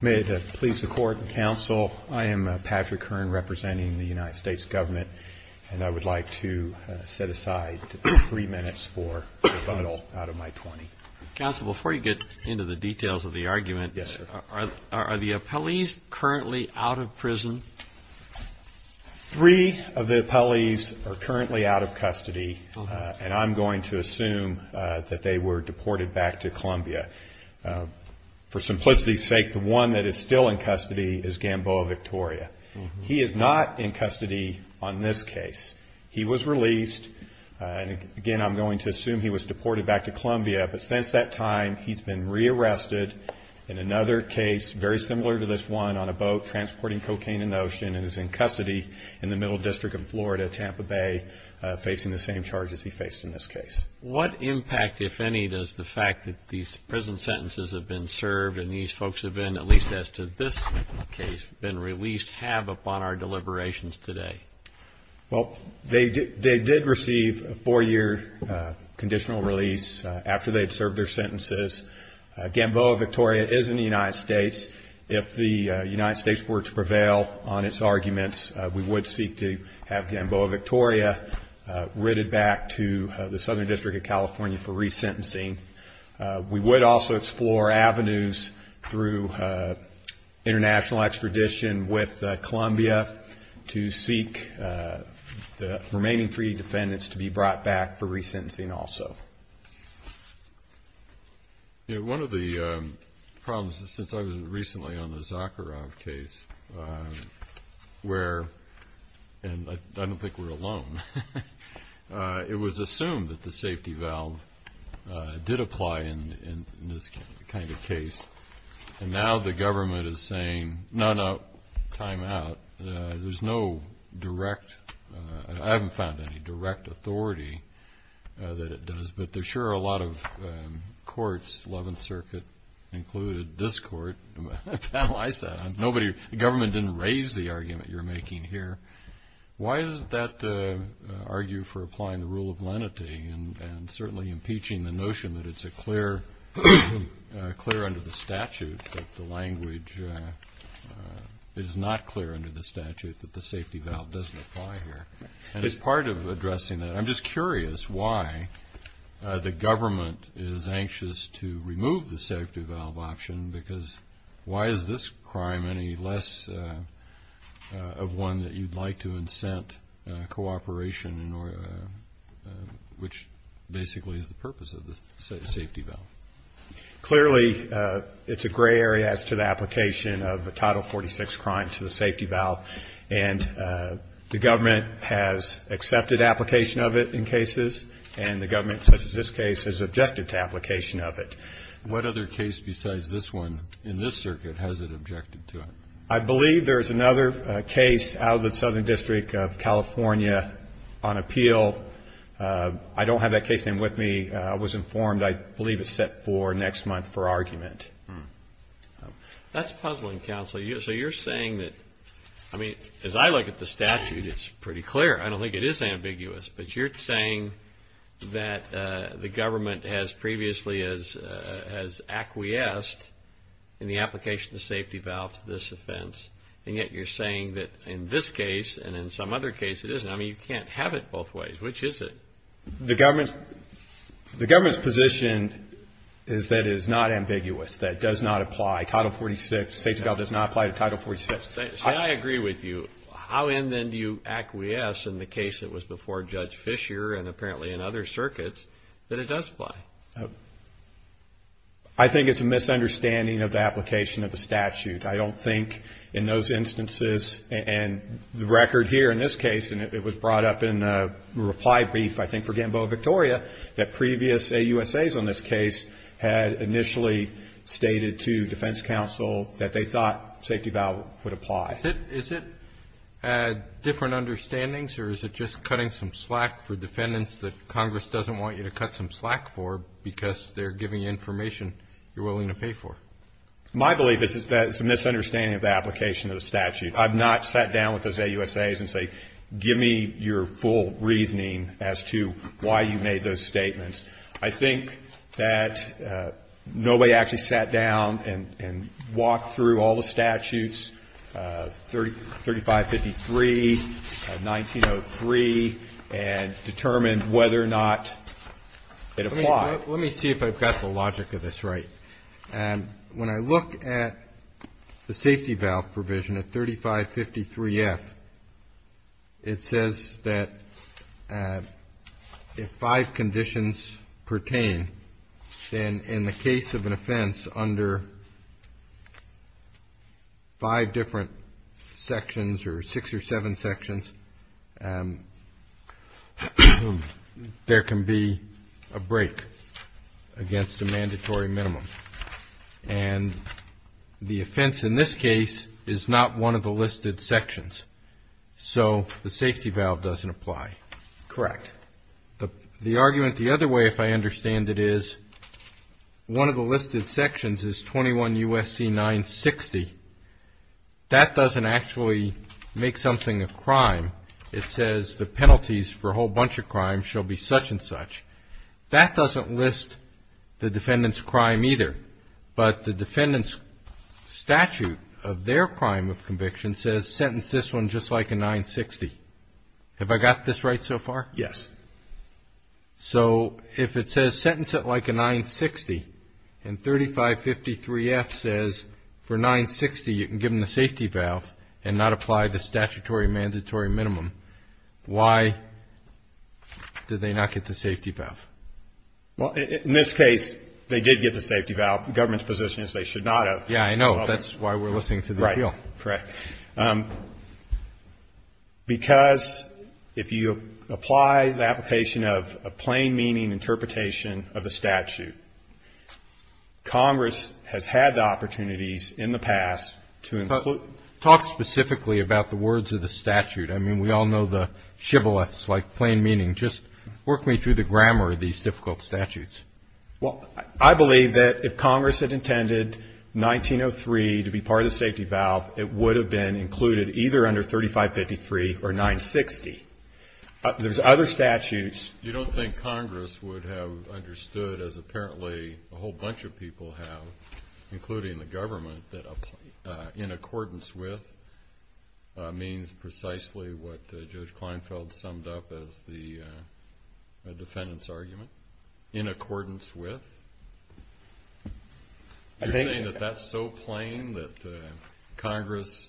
May it please the Court and Counsel, I am Patrick Hearn, representing the United States Government, and I would like to set aside three minutes for rebuttal out of my twenty. Counsel, before you get into the details of the argument, are the appellees currently out of prison? Three of the appellees are currently out of custody, and I'm going to assume that they were deported back to Columbia. For simplicity's sake, the one that is still in custody is Gamboa-Victoria. He is not in custody on this case. He was released, and again, I'm going to assume he was deported back to Columbia, but since that time, he's been rearrested in another case, very similar to this one, on a boat transporting cocaine in the ocean and is in custody in the Middle District of Florida, Tampa Bay, facing the same charges he faced in this case. What impact, if any, does the fact that these prison sentences have been served and these folks have been, at least as to this case, been released have upon our deliberations today? Well, they did receive a four-year conditional release after they had served their sentences. Gamboa-Victoria is in the United States. If the United States were to prevail on its arguments, we would seek to have Gamboa-Victoria ridded back to the Southern District of California for resentencing. We would also explore avenues through international extradition with Columbia to seek the remaining three defendants to be brought back for resentencing also. One of the problems, since I was recently on the Zakharov case, where, and I don't think we're alone, it was assumed that the safety valve did apply in this kind of case, and now the government is saying, no, no, time out. There's no direct, I haven't found any direct authority that it does, but there sure are a lot of courts, Eleventh Circuit included this court, to analyze that. The government didn't raise the argument you're making here. Why does that argue for applying the rule of lenity and certainly impeaching the notion that it's clear under the statute, that the language is not clear under the statute, that the safety valve doesn't apply here? And as part of addressing that, I'm just curious why the government is anxious to remove the safety valve option, because why is this crime any less of one that you'd like to incent cooperation, which basically is the purpose of the safety valve? Clearly, it's a gray area as to the application of a Title 46 crime to the safety valve, and the government has accepted application of it in cases, and the government, such as this case, has objected to application of it. What other case besides this one in this circuit has it objected to it? I believe there's another case out of the Southern District of California on appeal. I don't have that case name with me. I was informed, I believe, it's set for next month for argument. That's puzzling, counsel. So you're saying that, I mean, as I look at the statute, it's pretty clear. I don't think it is ambiguous, but you're saying that the government has previously has acquiesced in the application of the safety valve to this offense, and yet you're saying that in this case and in some other case it isn't. I mean, you can't have it both ways. Which is it? The government's position is that it is not ambiguous, that it does not apply. Title 46, safety valve does not apply to Title 46. Say I agree with you. How in then do you acquiesce in the case that was before Judge Fisher and apparently in other circuits that it does apply? I think it's a misunderstanding of the application of the statute. I don't think in those instances and the record here in this case, and it was brought up in a reply brief, I think, for Gamboa, Victoria, that previous AUSAs on this case had initially stated to defense counsel that they thought safety valve would apply. Is it different understandings or is it just cutting some slack for defendants that Congress doesn't want you to cut some slack for because they're giving you information you're willing to pay for? My belief is that it's a misunderstanding of the application of the statute. I've not sat down with those AUSAs and say, give me your full reasoning as to why you made those statements. I think that nobody actually sat down and walked through all the statutes, 3553, 1903, and determined whether or not it applied. Let me see if I've got the logic of this right. When I look at the safety valve provision at 3553F, it says that if five conditions pertain, then in the case of an offense under five different sections or six or seven sections, there can be a break. Against a mandatory minimum. And the offense in this case is not one of the listed sections. So the safety valve doesn't apply. Correct. The argument the other way, if I understand it is, one of the listed sections is 21 U.S.C. 960. That doesn't actually make something a crime. It says the penalties for a whole bunch of crimes shall be such and such. That doesn't list the defendant's crime either. But the defendant's statute of their crime of conviction says sentence this one just like a 960. Have I got this right so far? Yes. So if it says sentence it like a 960, and 3553F says for 960 you can give them the safety valve and not apply the statutory mandatory minimum, why did they not get the safety valve? Well, in this case, they did get the safety valve. The government's position is they should not have. Yeah, I know. That's why we're listening to the appeal. Right. Correct. Because if you apply the application of a plain meaning interpretation of the statute, Congress has had the opportunities in the past to include But talk specifically about the words of the statute. I mean, we all know the shibboleths like plain meaning. Just work me through the grammar of these difficult statutes. Well, I believe that if Congress had intended 1903 to be part of the safety valve, it would have been included either under 3553 or 960. There's other statutes You don't think Congress would have understood as apparently a whole bunch of people have, including the government, that in accordance with means precisely what Judge Kleinfeld summed up as the defendant's argument? In accordance with? You're saying that that's so plain that Congress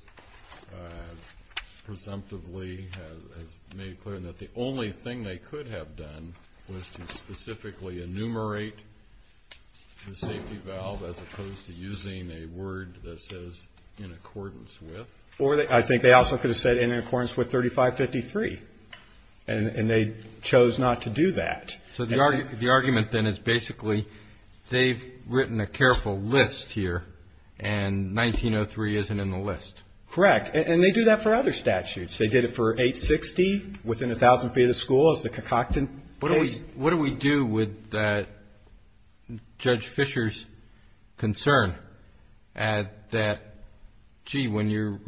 presumptively has made clear that the only thing they could have done was to specifically enumerate the safety valve as opposed to using a word that says in accordance with? Or I think they also could have said in accordance with 3553. And they chose not to do that. So the argument then is basically they've written a careful list here, and 1903 isn't in the list. Correct. And they do that for other statutes. They did it for 860, within a thousand feet of the school, as the Cacockton case. What do we do with Judge Fisher's concern that, gee, when you're reading the statute and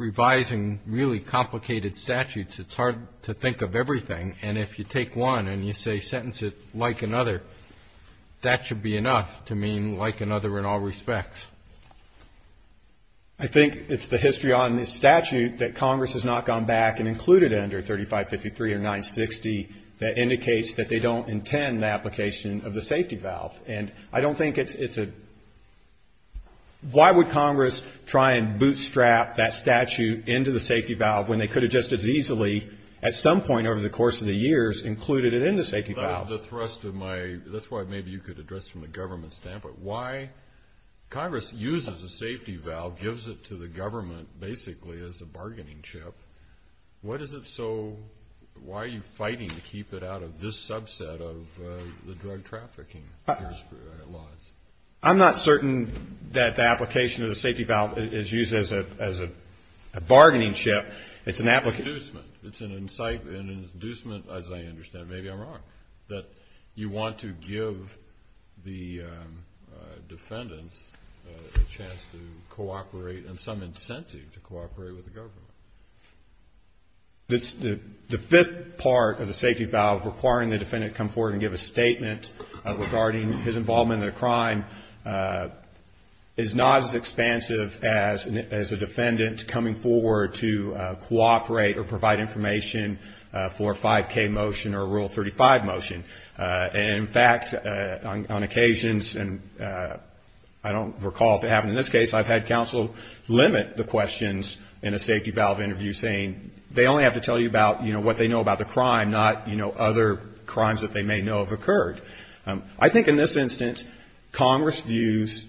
revising really complicated statutes, it's hard to think of everything? And if you take one and you say sentence it like another, that should be enough to mean like another in all respects? I think it's the history on this statute that Congress has not gone back and included under 3553 or 960 that indicates that they don't intend the application of the safety valve. And I don't think it's a why would Congress try and bootstrap that statute into the safety valve when they could have just as easily, at some point over the course of the years, included it in the safety valve? The thrust of my, that's why maybe you could address from the government standpoint, why Congress uses a safety valve, gives it to the government basically as a bargaining chip. What is it so, why are you fighting to keep it out of this subset of the drug trafficking laws? I'm not certain that the application of the safety valve is used as a bargaining chip. It's an application. It's an inducement. It's an incitement, an inducement, as I understand, maybe I'm wrong, that you want to give the defendants a chance to cooperate and some incentive to cooperate with the government. The fifth part of the safety valve, requiring the defendant to come forward and give a statement regarding his involvement in a crime, is not as expansive as a defendant coming forward to cooperate or provide information for a 5K motion or a Rule 35 motion. And in fact, on occasions, and I don't recall if it happened in this case, I've had counsel limit the questions in a safety valve interview saying they only have to tell you about, you know, what they know about the crime, not, you know, other crimes that they may know have occurred. I think in this instance, Congress views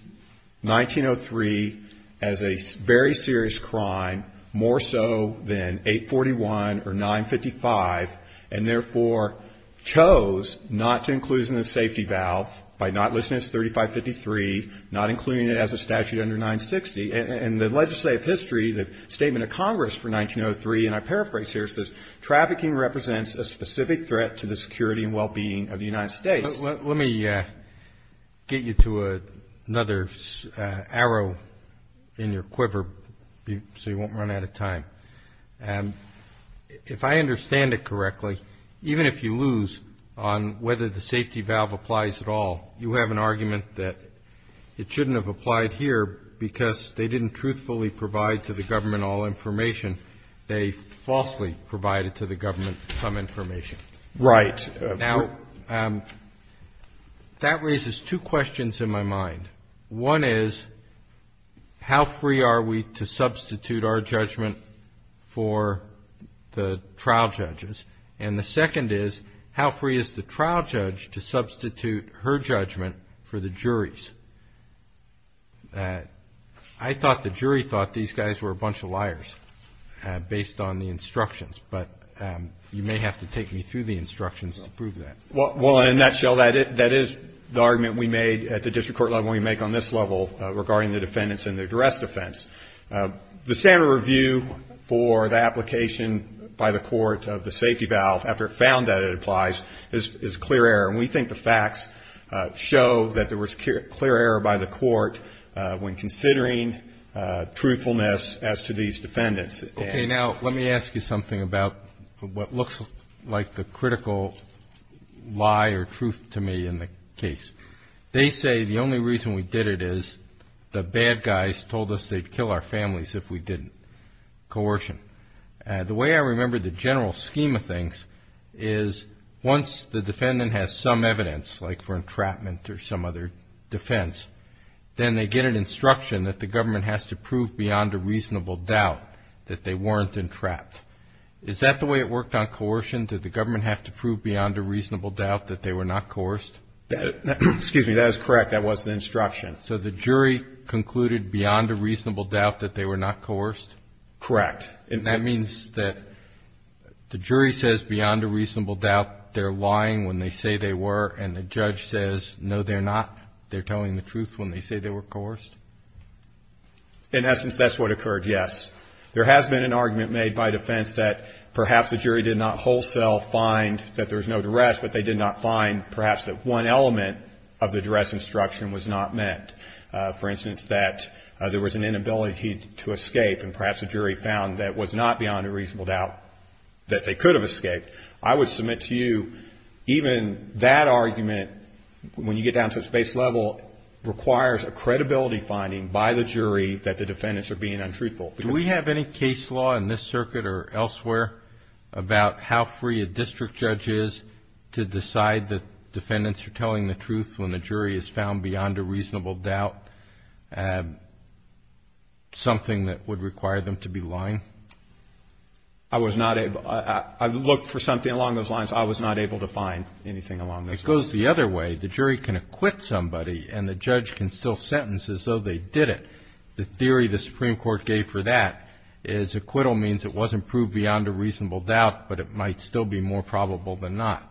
1903 as a very serious crime, more so than 841 or 955, and therefore chose not to include it in the safety valve by not listing it as a crime. The statement of Congress for 1903, and I paraphrase here, says, trafficking represents a specific threat to the security and well-being of the United States. Let me get you to another arrow in your quiver so you won't run out of time. If I understand it correctly, even if you lose on whether the safety valve applies at all, you have an argument that it shouldn't have applied here because they didn't truthfully provide to the government all information. They falsely provided to the government some information. Right. Now, that raises two questions in my mind. One is, how free are we to substitute our judgment for the trial judges? And the second is, how free is the trial judge to substitute her judgment for the jury's? I thought the jury thought these guys were a bunch of liars, based on the instructions, but you may have to take me through the instructions to prove that. Well, in a nutshell, that is the argument we made at the district court level, and we make on this level regarding the defendants and their duress defense. The standard review for the application by the court of the safety valve, after it found that it applies, is a clear error. And we think the facts show that there was clear error by the court when considering truthfulness as to these defendants. Okay. Now, let me ask you something about what looks like the critical lie or truth to me in the case. They say the only reason we did it is the bad guys told us they'd kill our families if we didn't. Coercion. The way I remember the general scheme of things is once the defendant has some evidence, like for entrapment or some other defense, then they get an instruction that the government has to prove beyond a reasonable doubt that they weren't entrapped. Is that the way it worked on coercion? Did the government have to prove beyond a reasonable doubt that they were not coerced? Excuse me. That is correct. That was the instruction. So the jury concluded beyond a reasonable doubt that they were not coerced? Correct. That means that the jury says beyond a reasonable doubt they're lying when they say they were and the judge says, no, they're not. They're telling the truth when they say they were coerced? In essence, that's what occurred, yes. There has been an argument made by defense that perhaps the jury did not wholesale find that there was no duress, but they did not find perhaps that one element of the duress instruction was not met. For instance, that there was an inability to escape and perhaps the jury found that was not beyond a reasonable doubt that they could have escaped. I would submit to you even that argument, when you get down to its base level, requires a credibility finding by the jury that the defendants are being untruthful. Do we have any case law in this circuit or elsewhere about how free a district judge is to decide that defendants are telling the truth when the jury is found beyond a reasonable doubt, something that would require them to be lying? I was not able. I looked for something along those lines. I was not able to find anything along those lines. It goes the other way. The jury can acquit somebody and the judge can still sentence as though they did it. The theory the Supreme Court gave for that is acquittal means it wasn't proved beyond a reasonable doubt, but it might still be more probable than not.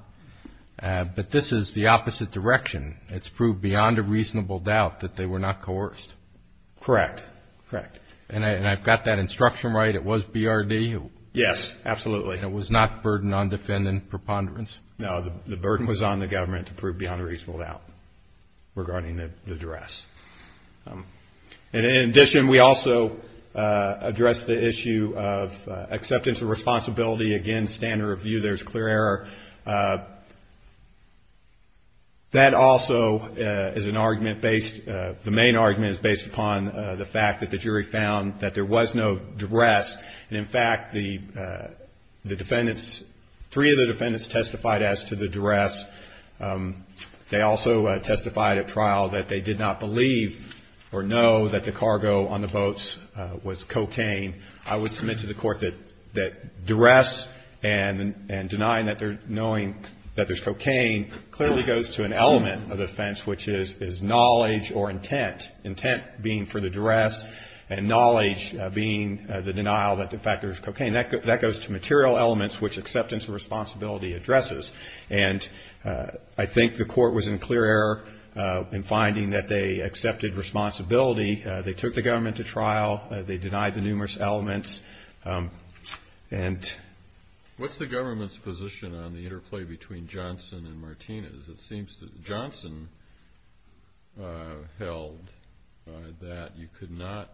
But this is the opposite direction. It's proved beyond a reasonable doubt that they were not coerced. Correct. Correct. And I've got that instruction right. It was BRD? Yes, absolutely. It was not burden on defendant preponderance? No, the burden was on the government to prove beyond a reasonable doubt regarding the duress. And in addition, we also addressed the issue of acceptance of responsibility. Again, standard of view, there's clear error. That also is an argument based, the main argument is based upon the fact that the jury found that there was no duress. And in fact, the defendants, three of the defendants testified as to the duress. They also testified at trial that they did not believe or know that the cargo on the boats was cocaine. I would submit to the court that duress and denying that they're knowing that there's cocaine clearly goes to an element of the offense, which is knowledge or intent. Intent being for the duress and knowledge being the denial that in fact there's cocaine. That goes to material elements which acceptance of responsibility addresses. And I think the court was in clear error in finding that they accepted responsibility. They took the government to trial. They denied the numerous elements and... What's the government's position on the interplay between Johnson and Martinez? It seems that Johnson held that you could not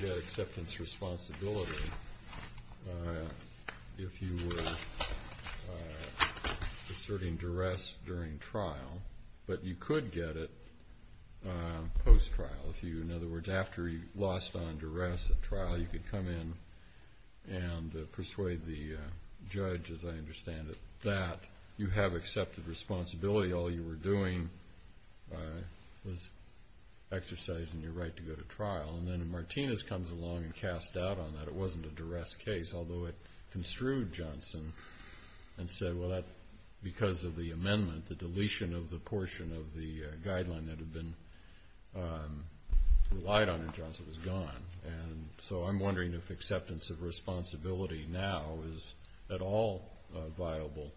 get acceptance responsibility if you were asserting duress during trial, but you could get it post-trial. If you, in other words, after you lost on trial, you could come in and persuade the judge, as I understand it, that you have accepted responsibility. All you were doing was exercising your right to go to trial. And then Martinez comes along and casts doubt on that. It wasn't a duress case, although it construed Johnson and said, well, that because of the amendment, the deletion of I'm wondering if acceptance of responsibility now is at all a viable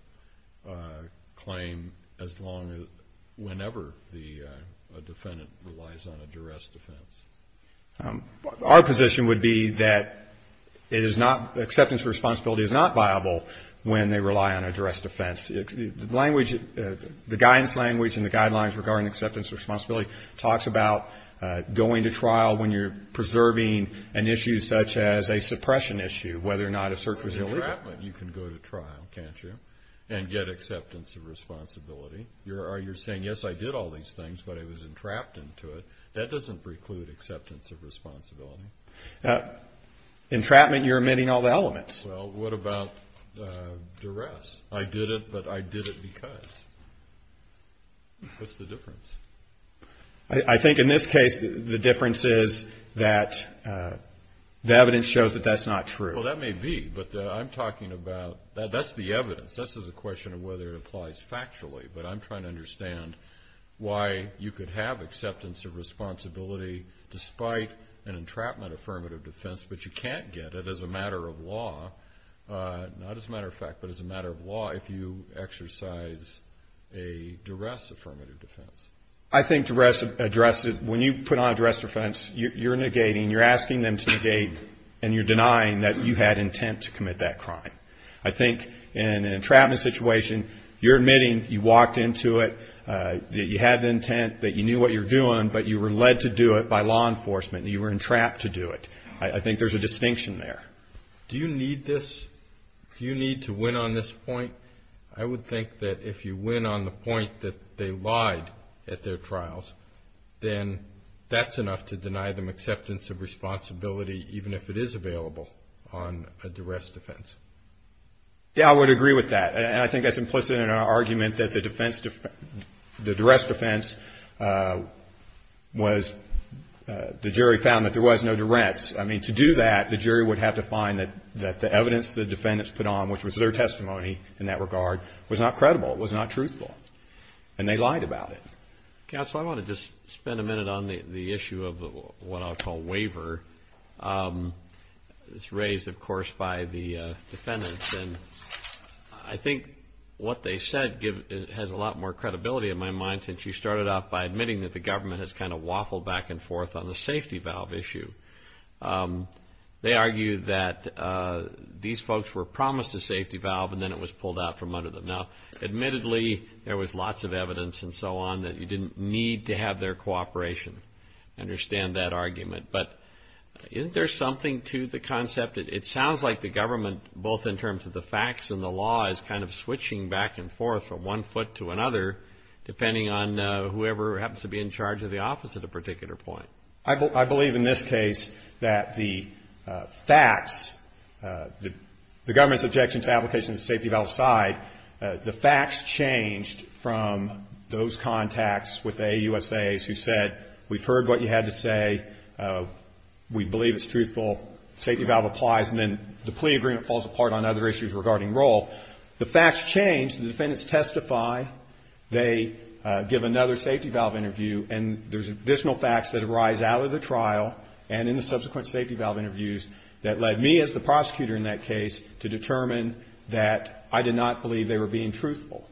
claim as long as, whenever the defendant relies on a duress defense. Our position would be that it is not, acceptance of responsibility is not viable when they rely on a duress defense. The language, the guidance language and the guidelines regarding acceptance of responsibility talks about going to trial when you're preserving an issue such as a suppression issue, whether or not a cert was delivered. Entrapment, you can go to trial, can't you, and get acceptance of responsibility. You're saying, yes, I did all these things, but I was entrapped into it. That doesn't preclude acceptance of responsibility. Entrapment, you're omitting all the elements. Well, what about duress? I did it, but I did it because. What's the difference? I think in this case, the difference is that the evidence shows that that's not true. Well, that may be, but I'm talking about, that's the evidence. This is a question of whether it applies factually, but I'm trying to understand why you could have acceptance of responsibility despite an entrapment affirmative defense, but you can't get it as a matter of law, not as a matter of fact, but as a matter of law if you exercise a duress affirmative defense. I think duress, when you put on a duress defense, you're negating, you're asking them to negate and you're denying that you had intent to commit that crime. I think in an entrapment situation, you're admitting you walked into it, that you had the intent, that you knew what you were doing, but you were led to do it by law enforcement and you were entrapped to do it. I think there's a distinction there. Do you need this, do you need to win on this point? I would think that if you win on the fact that you lied at their trials, then that's enough to deny them acceptance of responsibility, even if it is available on a duress defense. Yeah, I would agree with that, and I think that's implicit in our argument that the duress defense was, the jury found that there was no duress. I mean, to do that, the jury would have to find that the evidence the defendants put on, which was their testimony in that Counsel, I want to just spend a minute on the issue of what I'll call waiver. It's raised, of course, by the defendants, and I think what they said has a lot more credibility in my mind since you started off by admitting that the government has kind of waffled back and forth on the safety valve issue. They argue that these folks were promised a safety valve and then it was pulled out from under them. Now, admittedly, there was lots of evidence and so on that you didn't need to have their cooperation. I understand that argument, but isn't there something to the concept? It sounds like the government, both in terms of the facts and the law, is kind of switching back and forth from one foot to another, depending on whoever happens to be in charge of the office at a particular point. I believe in this case that the facts, the government's objection to the application of the safety valve side, the facts changed from those contacts with the AUSAs who said we've heard what you had to say, we believe it's truthful, safety valve applies, and then the plea agreement falls apart on other issues regarding role. The facts change, the defendants testify, they give another safety valve interview, and there's additional facts that arise out of the trial and in the subsequent safety valve interviews that led me as the prosecutor in that case to determine that I did not believe they were being truthful.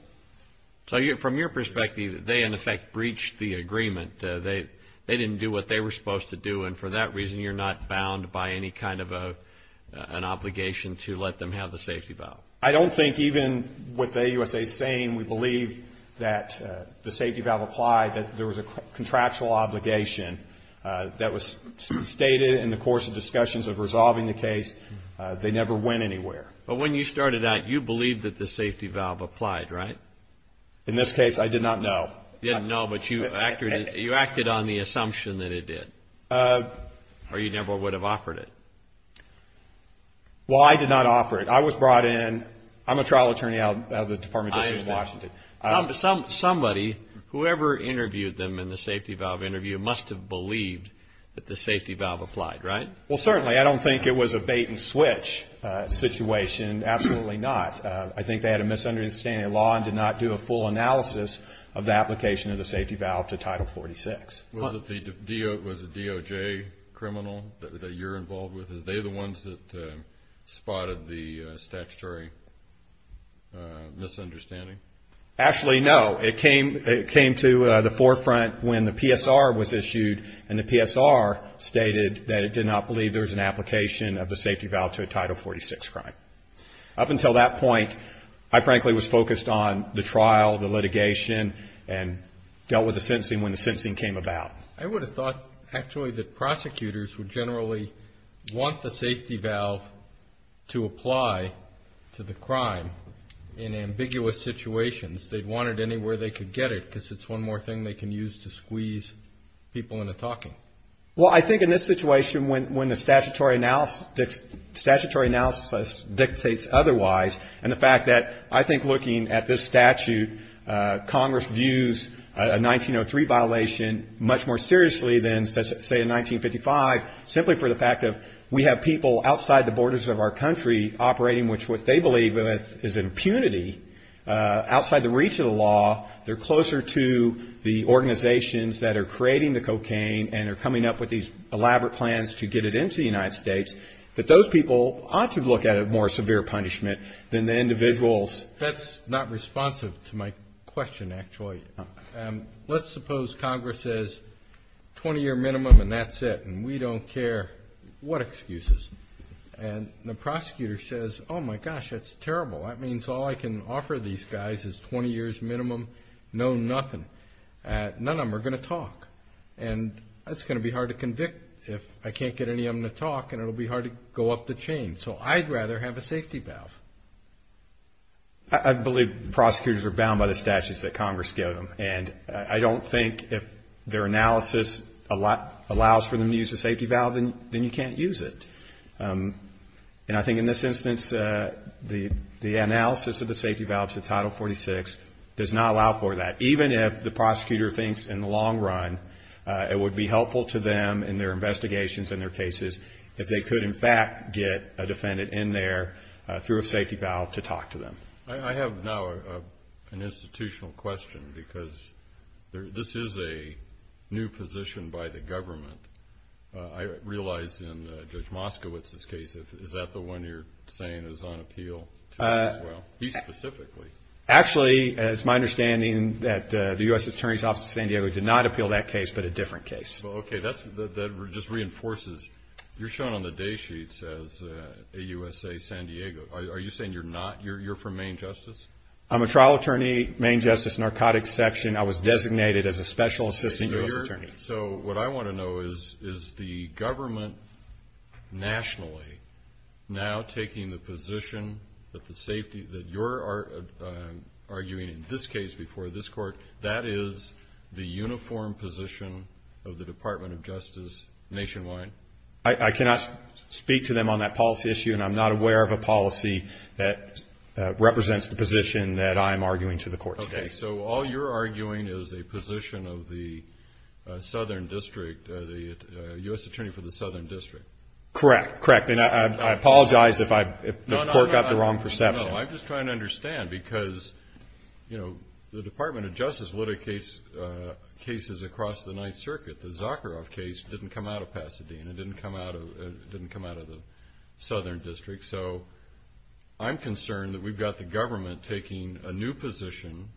So from your perspective, they, in effect, breached the agreement. They didn't do what they were supposed to do, and for that reason, you're not bound by any kind of an obligation to let them have the safety valve? I don't think even with the AUSAs saying we believe that the safety valve applied, that there was a contractual obligation that was stated in the course of discussions of resolving the case, they never went anywhere. But when you started out, you believed that the safety valve applied, right? In this case, I did not know. You didn't know, but you acted on the assumption that it did? Or you never would have offered it? Well, I did not offer it. I was brought in, I'm a trial attorney out of the Department of Justice in Washington. Somebody, whoever interviewed them in the safety valve interview, must have believed that the safety valve applied, right? Well, certainly. I don't think it was a bait and switch situation. Absolutely not. I think they had a misunderstanding of the law and did not do a full analysis of the application of the safety valve to Title 46. Was it the DOJ criminal that you're involved with? Is they the ones that spotted the statutory misunderstanding? Actually, no. It came to the forefront when the PSR was issued, and the PSR stated that it did not believe there was an application of the safety valve to a Title 46 crime. Up until that point, I frankly was focused on the trial, the litigation, and dealt with the sentencing when the sentencing came about. I would have thought, actually, that prosecutors would generally want the safety valve to apply to the crime in ambiguous situations. They'd want it anywhere they could get it, because it's one more thing they can use to squeeze people into talking. Well, I think in this situation, when the statutory analysis dictates otherwise, and the fact that I think looking at this statute, Congress views a 1903 violation much more seriously than, say, in 1955, simply for the fact that we have people outside the borders of our country operating with what they believe is impunity. Outside the reach of the law, they're closer to the organizations that are creating the cocaine and are coming up with these elaborate plans to get it into the United States, that those people ought to look at it more as severe punishment than the individuals. That's not responsive to my question, actually. Let's suppose Congress says, 20-year minimum, and that's it, and we don't care. What excuses? And the prosecutor says, oh, my gosh, that's terrible. That means all I can offer these guys is 20 years minimum, no nothing. None of them are going to talk. And it's going to be hard to convict if I can't get any of them to talk, and it'll be hard to go up the chain. So I'd rather have a safety valve. I believe prosecutors are bound by the statutes that Congress gives them. And I don't think if their analysis allows for them to use a safety valve, then you can't use it. And I think in this instance, the analysis of the safety valve to Title 46 does not allow for that, even if the prosecutor thinks in the long run it would be helpful to them in their investigations and their cases if they could, in fact, get a defendant in there through a safety valve to talk to them. I have now an institutional question, because this is a new position by the government. I realize in Judge Moskowitz's case, is that the one you're saying is on appeal as well? He specifically. Actually, it's my understanding that the U.S. Attorney's Office of San Diego did not appeal that case, but a different case. Well, okay, that just reinforces you're shown on the day sheets as a USA San Diego. Are you saying you're not? You're from Maine Justice? I'm a trial attorney, Maine Justice, narcotics section. I was designated as a special assistant U.S. attorney. So what I want to know is, is the government nationally now taking the position that the safety, that you're arguing in this case before this court, that is the uniform position of the Department of Justice nationwide? I cannot speak to them on that policy issue, and I'm not aware of a policy that represents the position that I'm arguing to the court today. Okay, so all you're arguing is a position of the Southern District, the U.S. Attorney for the Southern District. Correct, correct. And I apologize if the court got the wrong perception. No, no, no. I'm just trying to understand, because, you know, the Department of Justice litigates cases across the Ninth Circuit. The Zakharov case didn't come out of Pasadena. It didn't come out of the Southern District. So I'm concerned that we've got the government taking a new position,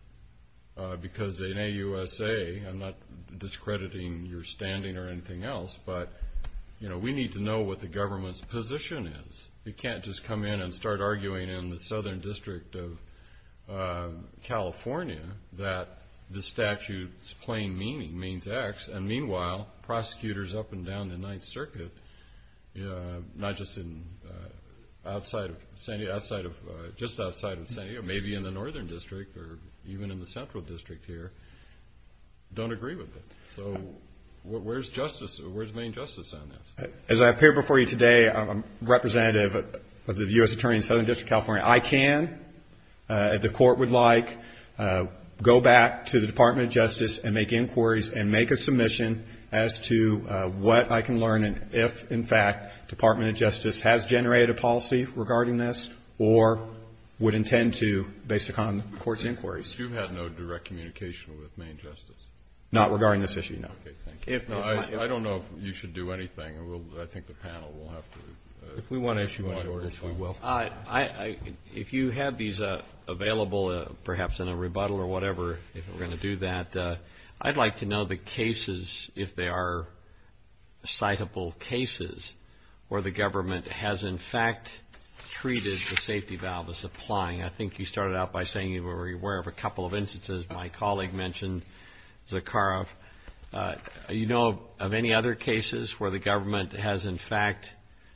because in AUSA, I'm not discrediting your standing or anything else, but, you know, we need to know what the government's position is. We can't just come in and start arguing in the Southern District of California that the statute's plain meaning means X, and meanwhile, prosecutors up and down the Ninth Circuit, not just in outside of San Diego, just outside of San Diego, maybe in the Northern District or even in the Central District here, don't agree with it. So where's justice, where's main justice on this? As I appear before you today, I'm representative of the U.S. Attorney in the Southern District of California. I can, if the Court would like, go back to the Department of Justice and make inquiries and make a submission as to what I can learn and if, in fact, Department of Justice has generated a policy regarding this or would intend to based upon the Court's inquiries. But you've had no direct communication with main justice? Not regarding this issue, no. Okay, thank you. I don't know if you should do anything. I think the panel will have to. If we want to issue any orders, we will. If you have these available, perhaps in a rebuttal or whatever, if we're going to do that, I'd like to know the cases, if they are citable cases, where the government has, in fact, treated the safety valve as applying. I think you started out by saying you were aware of a couple of instances. My colleague mentioned Zakharov. You know of any other cases where the government has, in fact,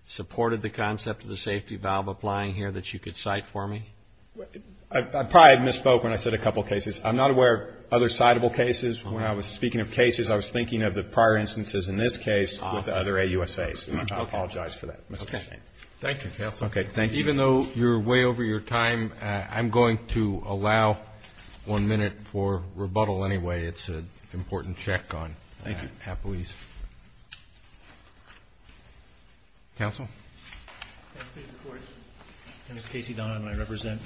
supported the concept of the safety valve applying here that you could cite for me? I probably misspoke when I said a couple of cases. I'm not aware of other citable cases. When I was speaking of cases, I was thinking of the prior instances in this case with other AUSAs. I apologize for that. Okay. Thank you, counsel. Okay, thank you. Even though you're way over your time, I'm going to allow one minute for rebuttal anyway. It's an important check on half a lease. Thank you. Counsel? Can I please report? My name is Casey Donovan. I represent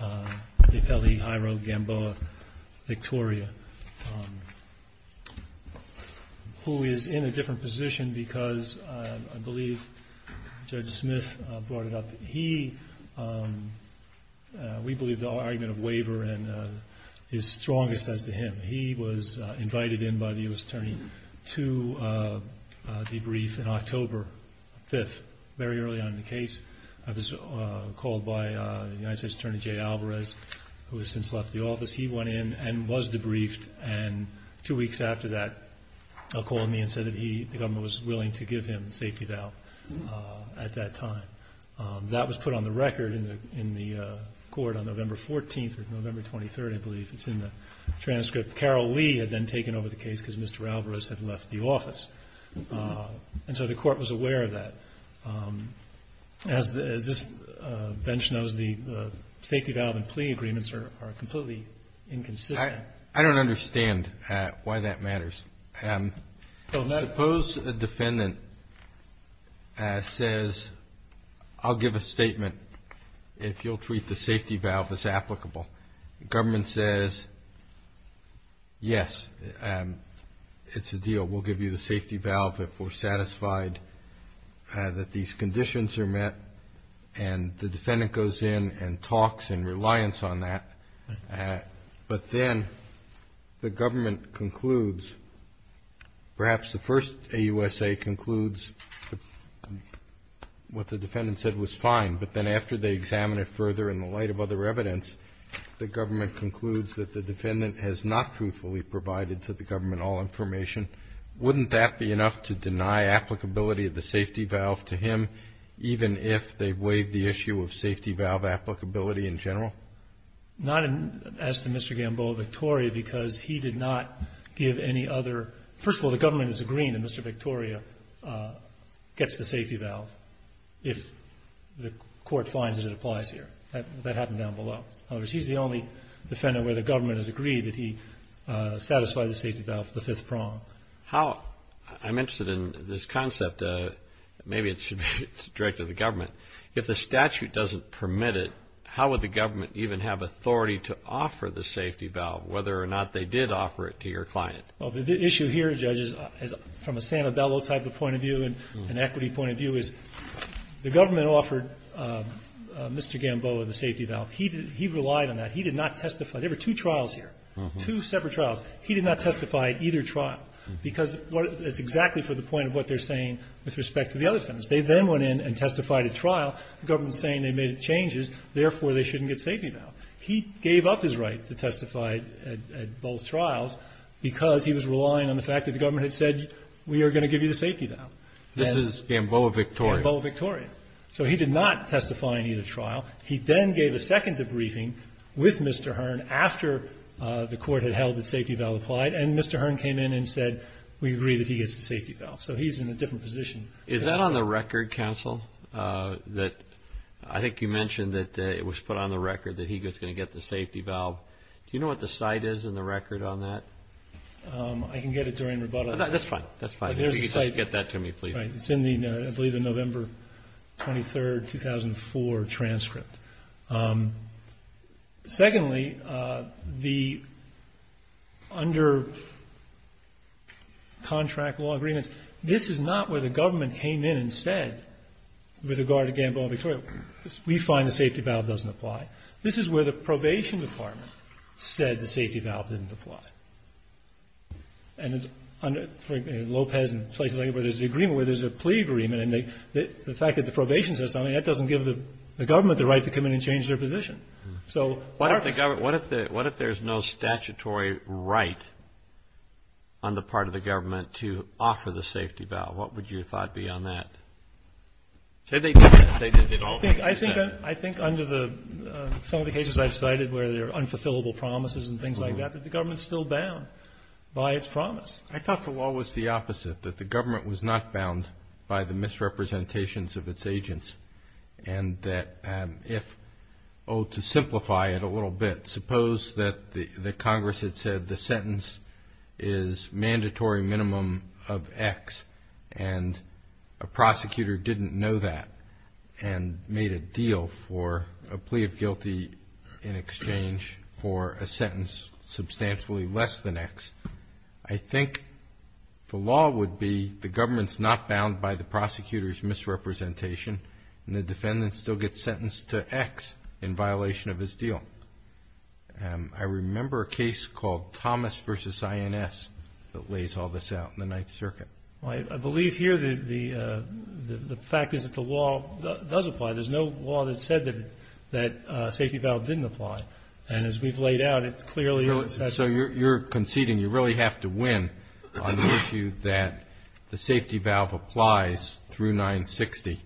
the Pele, Hiro, Gamboa, Victoria, who is in a different position because I believe Judge Smith brought it up. He, we believe the argument of waiver is strongest as to him. He was invited in by the U.S. Attorney to debrief on October 5th, very early on in the case. I was called by the United States Attorney Jay Alvarez, who has since left the office. He went in and was debriefed, and two weeks after that, he called me and said that the government was willing to give him a safety valve at that time. That was put on the record in the court on November 14th or November 23rd, I believe. It's in the transcript. Carol Lee had then taken over the case because Mr. Alvarez had left the office. And so the court was aware of that. As this bench knows, the safety valve and plea agreements are completely inconsistent. I don't understand why that matters. Suppose a defendant says, I'll give a statement if you'll treat the safety valve as applicable. The government says, yes, it's a deal. We'll give you the safety valve if we're satisfied that these conditions are met. And the defendant goes in and talks in reliance on that. But then the government concludes, perhaps the first AUSA concludes what the defendant said was fine. But then after they examine it further in the light of other evidence, the government concludes that the defendant has not truthfully provided to the government all information. Wouldn't that be enough to deny applicability of the safety valve to him, even if they waived the issue of safety valve applicability in general? Not as to Mr. Gamboa, Victoria, because he did not give any other – first of all, the government is agreeing that Mr. Victoria gets the safety valve if the court finds that it applies here. That happened down below. In other words, he's the only defendant where the government has agreed that he satisfy the safety valve for the fifth prong. How – I'm interested in this concept. Maybe it should be directed to the government. If the statute doesn't permit it, how would the government even have authority to offer the safety valve, whether or not they did offer it to your client? Well, the issue here, Judge, is from a Santabello type of point of view and equity point of view, is the government offered Mr. Gamboa the safety valve. He relied on that. He did not testify. There were two trials here, two separate trials. He did not testify at either trial because it's exactly for the point of what they're saying with respect to the other defendants. They then went in and testified at trial. The government is saying they made changes. Therefore, they shouldn't get safety valve. He gave up his right to testify at both trials because he was relying on the fact that the government had said, we are going to give you the safety valve. This is Gamboa Victoria. Gamboa Victoria. So he did not testify in either trial. He then gave a second debriefing with Mr. Hearn after the court had held that safety valve applied, and Mr. Hearn came in and said, we agree that he gets the safety valve. So he's in a different position. Is that on the record, counsel, that I think you mentioned that it was put on the record that he was going to get the safety valve? Do you know what the site is in the record on that? I can get it during rebuttal. That's fine. That's fine. Get that to me, please. It's in the, I believe, the November 23, 2004 transcript. Secondly, under contract law agreements, this is not where the government came in and said, with regard to Gamboa Victoria, we find the safety valve doesn't apply. This is where the probation department said the safety valve didn't apply. And it's under Lopez and places like that where there's an agreement, where there's a plea agreement, and the fact that the probation says something, that doesn't give the government the right to come in and change their position. What if there's no statutory right on the part of the government to offer the safety valve? What would your thought be on that? I think under some of the cases I've cited where there are unfulfillable promises and things like that, that the government is still bound by its promise. I thought the law was the opposite, that the government was not bound by the misrepresentations of its agents. And that if, oh, to simplify it a little bit, suppose that Congress had said the sentence is mandatory minimum of X, and a prosecutor didn't know that and made a deal for a plea of guilty in exchange for a sentence substantially less than X. I think the law would be the government's not bound by the prosecutor's misrepresentation and the defendant still gets sentenced to X in violation of his deal. I remember a case called Thomas v. INS that lays all this out in the Ninth Circuit. I believe here the fact is that the law does apply. There's no law that said that safety valve didn't apply. And as we've laid out, it clearly is. So you're conceding you really have to win on the issue that the safety valve applies through 960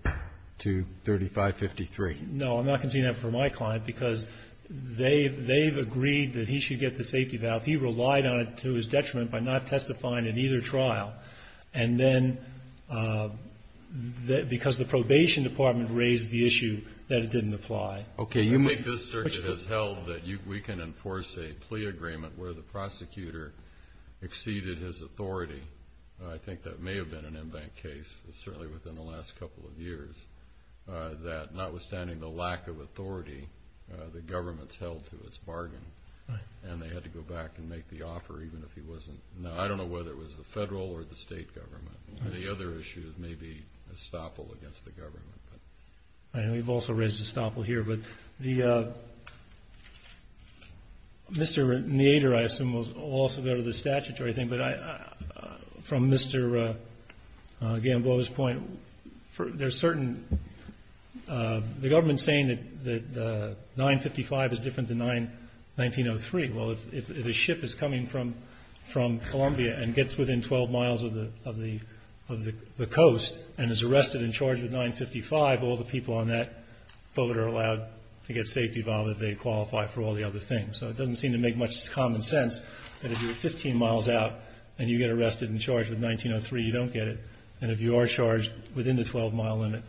to 3553. No, I'm not conceding that for my client because they've agreed that he should get the safety valve. He relied on it to his detriment by not testifying in either trial. And then because the probation department raised the issue that it didn't apply. This circuit has held that we can enforce a plea agreement where the prosecutor exceeded his authority. I think that may have been an in-bank case, certainly within the last couple of years, that notwithstanding the lack of authority, the government's held to its bargain. And they had to go back and make the offer even if he wasn't. Now, I don't know whether it was the federal or the state government. The other issue is maybe estoppel against the government. I know we've also raised estoppel here. But Mr. Nader, I assume, will also go to the statutory thing. But from Mr. Gamboa's point, there's certain – the government's saying that 955 is different than 1903. Well, if a ship is coming from Columbia and gets within 12 miles of the coast and is arrested and charged with 955, all the people on that boat are allowed to get safety valve if they qualify for all the other things. So it doesn't seem to make much common sense that if you're 15 miles out and you get arrested and charged with 1903, you don't get it. And if you are charged within the 12-mile limit,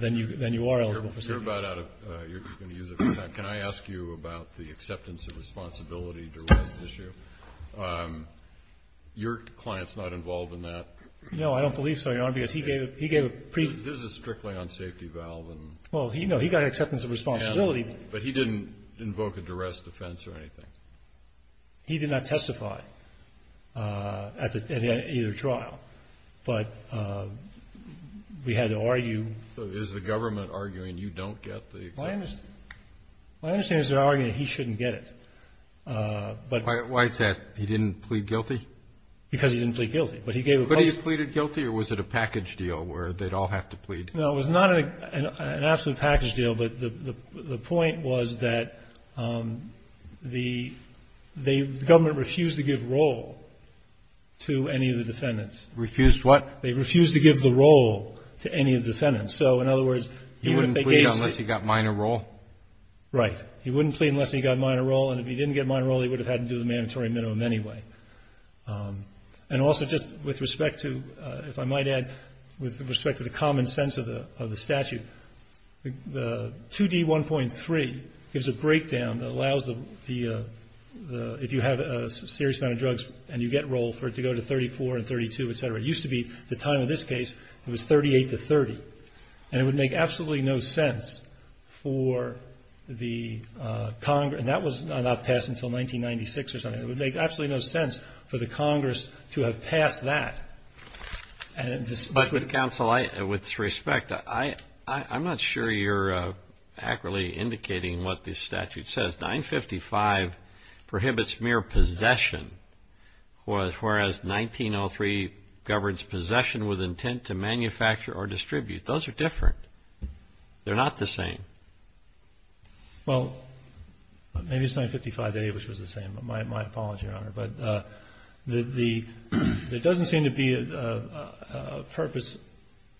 then you are eligible for safety. You're about out of – you're going to use up your time. Can I ask you about the acceptance of responsibility duress issue? Your client's not involved in that. No, I don't believe so, Your Honor, because he gave a – he gave a – His is strictly on safety valve and – Well, no, he got acceptance of responsibility. But he didn't invoke a duress defense or anything? He did not testify at either trial. But we had to argue. So is the government arguing you don't get the acceptance? My understanding is they're arguing he shouldn't get it. Why is that? He didn't plead guilty? Because he didn't plead guilty. But he gave a – But he pleaded guilty, or was it a package deal where they'd all have to plead? No, it was not an absolute package deal. But the point was that the government refused to give roll to any of the defendants. Refused what? They refused to give the roll to any of the defendants. So, in other words, even if they gave – He wouldn't plead unless he got minor roll? Right. He wouldn't plead unless he got minor roll. And if he didn't get minor roll, he would have had to do the mandatory minimum anyway. And also just with respect to, if I might add, with respect to the common sense of the statute, the 2D1.3 gives a breakdown that allows the – if you have a serious amount of drugs and you get roll for it to go to 34 and 32, et cetera. It used to be, at the time of this case, it was 38 to 30. And it would make absolutely no sense for the – and that was not passed until 1996 or something. It would make absolutely no sense for the Congress to have passed that. But, counsel, with respect, I'm not sure you're accurately indicating what this statute says. 955 prohibits mere possession, whereas 1903 governs possession with intent to manufacture or distribute. Those are different. They're not the same. Well, maybe it's 955A, which was the same. My apologies, Your Honor. But the – there doesn't seem to be a purpose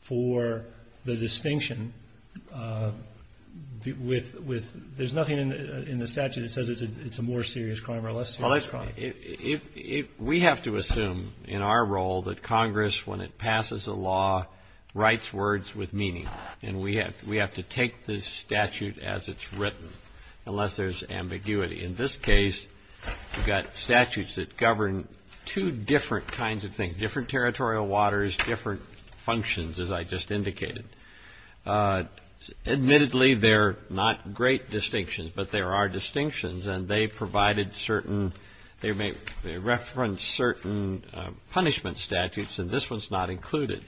for the distinction with – there's nothing in the statute that says it's a more serious crime or a less serious crime. Well, let's – we have to assume in our role that Congress, when it passes a law, writes words with meaning. And we have to take this statute as it's written, unless there's ambiguity. In this case, we've got statutes that govern two different kinds of things, different territorial waters, different functions, as I just indicated. Admittedly, they're not great distinctions, but there are distinctions. And they provided certain – they reference certain punishment statutes, and this one's not included.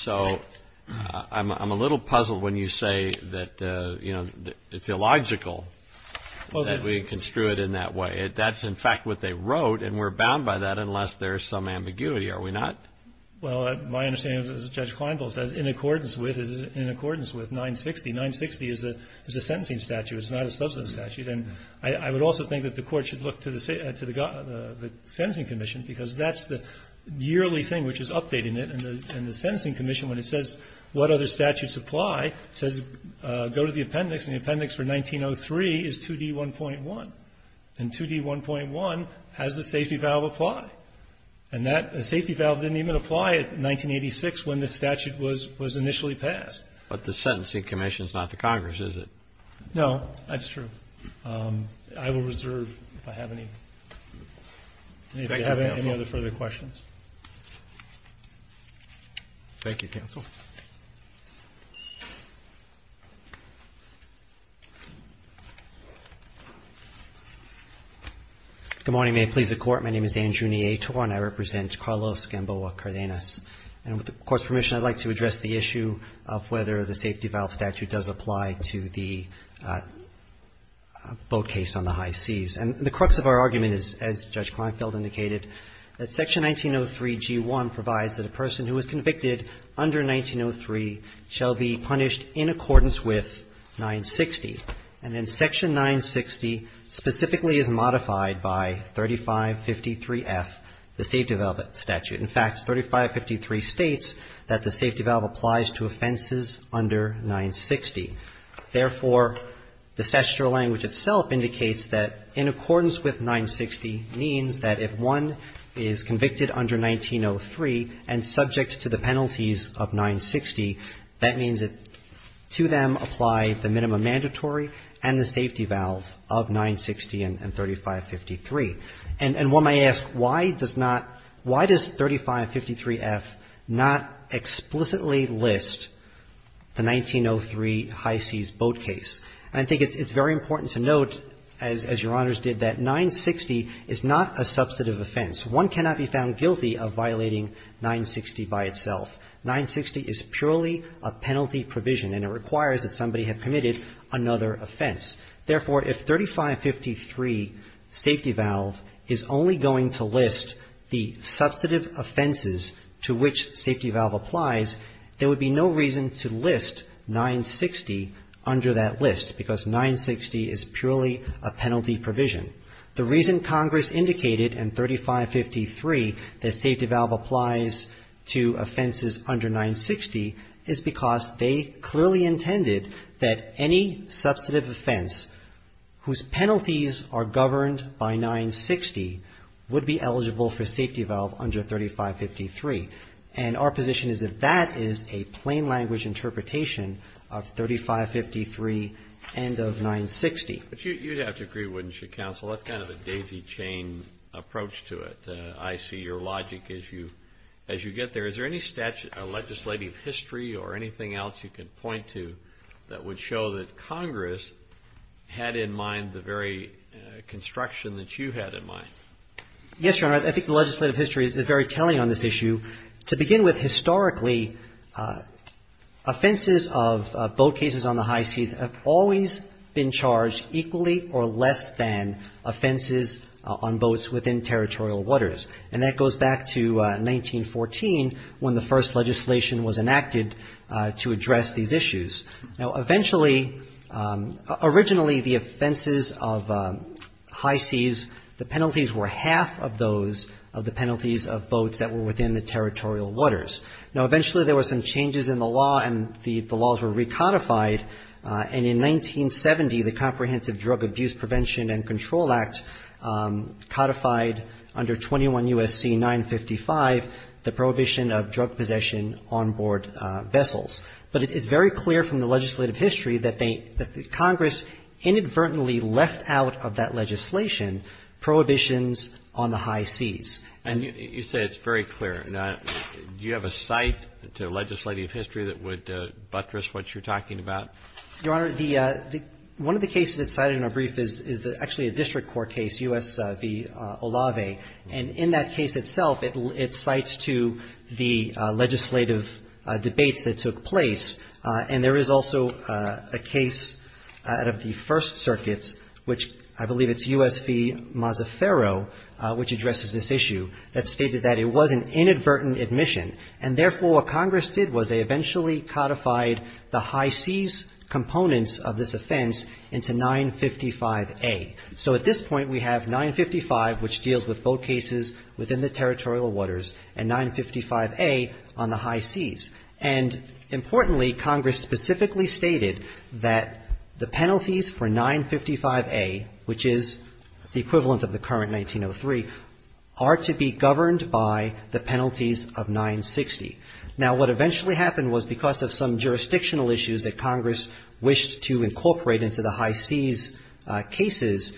So I'm a little puzzled when you say that, you know, it's illogical that we construe it in that way. That's, in fact, what they wrote, and we're bound by that unless there's some ambiguity. Are we not? Well, my understanding is, as Judge Kleindl says, in accordance with 960. 960 is a sentencing statute. It's not a substance statute. And I would also think that the Court should look to the sentencing commission, because that's the yearly thing which is updating it. And the sentencing commission, when it says what other statutes apply, says go to the appendix, and the appendix for 1903 is 2D1.1. And 2D1.1 has the safety valve apply. And that safety valve didn't even apply in 1986 when the statute was initially passed. But the sentencing commission is not the Congress, is it? No, that's true. I will reserve if I have any further questions. Thank you, counsel. Good morning. May it please the Court. My name is Andrew Niator, and I represent Carlos Gamboa Cardenas. And with the Court's permission, I'd like to address the issue of whether the safety valve statute does apply to the boat case on the high seas. And the crux of our argument is, as Judge Kleinfeld indicated, that Section 1903G1 provides that a person who is convicted under 1903 shall be punished in accordance with 960. And then Section 960 specifically is modified by 3553F, the safety valve statute. In fact, 3553 states that the safety valve applies to offenses under 960. Therefore, the statutory language itself indicates that in accordance with 960 means that if one is convicted under 1903 and subject to the penalties of 960, that means to them apply the minimum mandatory and the safety valve of 960 and 3553. And one might ask, why does not – why does 3553F not explicitly list the 1903 high seas boat case? And I think it's very important to note, as Your Honors did, that 960 is not a substantive offense. One cannot be found guilty of violating 960 by itself. 960 is purely a penalty provision, and it requires that somebody have committed another offense. Therefore, if 3553 safety valve is only going to list the substantive offenses to which safety valve applies, there would be no reason to list 960 under that list because 960 is purely a penalty provision. The reason Congress indicated in 3553 that safety valve applies to offenses under 960 is because they clearly intended that any substantive offense whose penalties are governed by 960 would be eligible for safety valve under 3553. And our position is that that is a plain language interpretation of 3553 and of 960. But you'd have to agree, wouldn't you, Counsel? That's kind of a daisy chain approach to it. I see your logic as you get there. Is there any legislative history or anything else you can point to that would show that Congress had in mind the very construction that you had in mind? Yes, Your Honor. I think the legislative history is very telling on this issue. To begin with, historically, offenses of boat cases on the high seas have always been charged equally or less than offenses on boats within territorial waters. And that goes back to 1914 when the first legislation was enacted to address these issues. Now, eventually, originally the offenses of high seas, the penalties were half of those, of the penalties of boats that were within the territorial waters. Now, eventually there were some changes in the law and the laws were recodified. And in 1970, the Comprehensive Drug Abuse Prevention and Control Act codified under 21 U.S.C. 955 the prohibition of drug possession on board vessels. But it's very clear from the legislative history that Congress inadvertently left out of that legislation prohibitions on the high seas. And you say it's very clear. Now, do you have a cite to legislative history that would buttress what you're talking about? Your Honor, the one of the cases that's cited in our brief is actually a district court case, U.S. v. Olave. And in that case itself, it cites to the legislative debates that took place. And there is also a case out of the First Circuit, which I believe it's U.S. v. Mazzaferro, which addresses this issue, that stated that it was an inadvertent admission. And therefore, what Congress did was they eventually codified the high seas components of this offense into 955A. So at this point, we have 955, which deals with boat cases within the territorial waters, and 955A on the high seas. And importantly, Congress specifically stated that the penalties for 955A, which is the equivalent of the current 1903, are to be governed by the penalties of 960. Now, what eventually happened was because of some jurisdictional issues that Congress wished to incorporate into the high seas cases,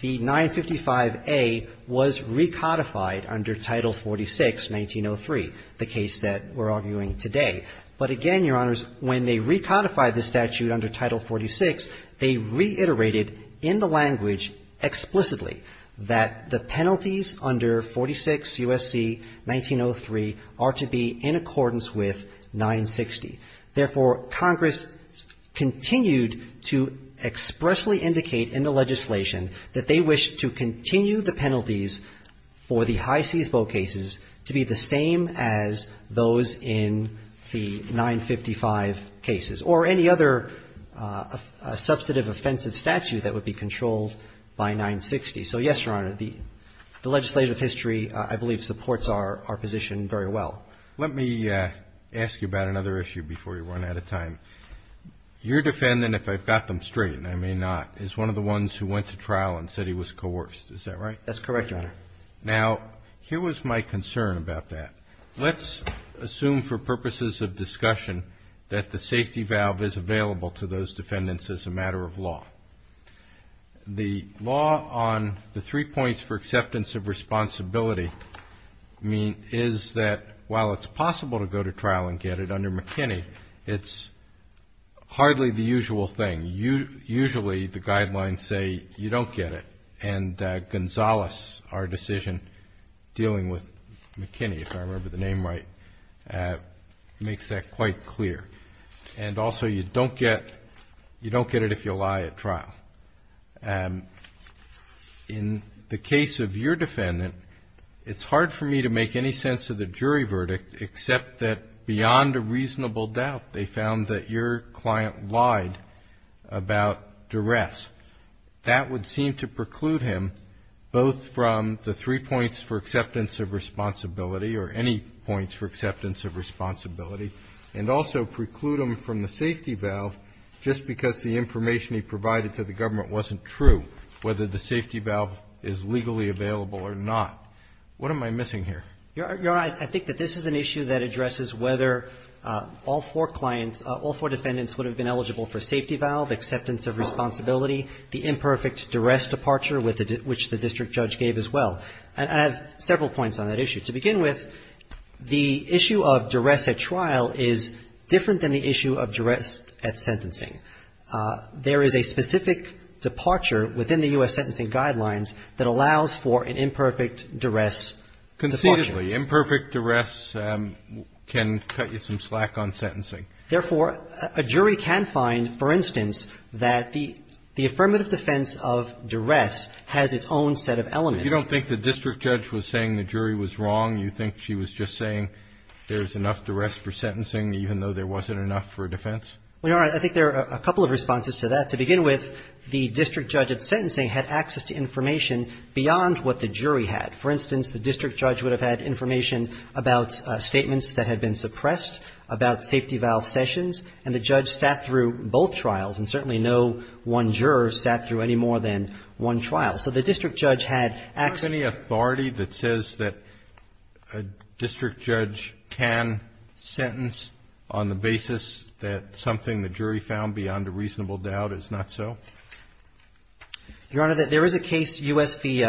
the 955A was recodified under Title 46, 1903, the case that we're arguing today. But again, Your Honors, when they recodified the statute under Title 46, they reiterated in the language explicitly that the penalties under 46 U.S.C. 1903 are to be in accordance with 960. Therefore, Congress continued to expressly indicate in the legislation that they wished to continue the penalties for the high seas boat cases to be the same as those in the 955 cases. And so the question is, does Congress want to continue the penalties for the high seas cases or any other substantive offensive statute that would be controlled by 960? So, yes, Your Honor, the legislative history, I believe, supports our position very well. Roberts. Let me ask you about another issue before we run out of time. Your defendant, if I've got them straight, and I may not, is one of the ones who went to trial and said he was coerced. Is that right? Yes, Your Honor. Now, here was my concern about that. Let's assume for purposes of discussion that the safety valve is available to those defendants as a matter of law. The law on the three points for acceptance of responsibility is that while it's possible to go to trial and get it under McKinney, it's hardly the usual thing. Usually the guidelines say you don't get it. And Gonzalez, our decision dealing with McKinney, if I remember the name right, makes that quite clear. And also you don't get it if you lie at trial. In the case of your defendant, it's hard for me to make any sense of the jury verdict except that beyond a reasonable doubt they found that your client lied about duress. That would seem to preclude him both from the three points for acceptance of responsibility or any points for acceptance of responsibility, and also preclude him from the safety valve just because the information he provided to the government wasn't true, whether the safety valve is legally available or not. What am I missing here? Your Honor, I think that this is an issue that addresses whether all four clients all four defendants would have been eligible for safety valve, acceptance of responsibility, the imperfect duress departure which the district judge gave as well. And I have several points on that issue. To begin with, the issue of duress at trial is different than the issue of duress at sentencing. There is a specific departure within the U.S. sentencing guidelines that allows for an imperfect duress departure. Conceitedly, imperfect duress can cut you some slack on sentencing. Therefore, a jury can find, for instance, that the affirmative defense of duress has its own set of elements. But you don't think the district judge was saying the jury was wrong? You think she was just saying there's enough duress for sentencing, even though there wasn't enough for a defense? Your Honor, I think there are a couple of responses to that. To begin with, the district judge at sentencing had access to information beyond what the jury had. For instance, the district judge would have had information about statements that had been suppressed, about safety valve sessions, and the judge sat through both trials. And certainly no one juror sat through any more than one trial. So the district judge had access. Is there any authority that says that a district judge can sentence on the basis that something the jury found beyond a reasonable doubt is not so? Your Honor, there is a case, U.S. v.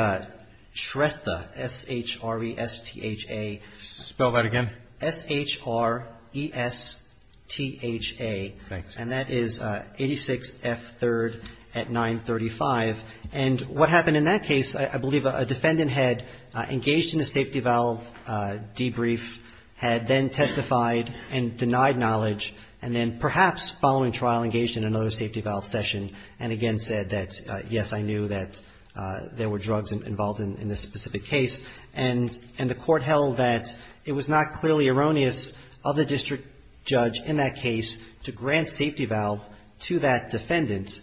Shretha, S-H-R-E-S-T-H-A. Spell that again. S-H-R-E-S-T-H-A. Thanks. And that is 86F3rd at 935. And what happened in that case, I believe a defendant had engaged in a safety valve debrief, had then testified and denied knowledge, and then perhaps following trial engaged in another safety valve session and again said that, yes, I knew that there were drugs involved in this specific case. And the Court held that it was not clearly erroneous of the district judge in that case to grant safety valve to that defendant,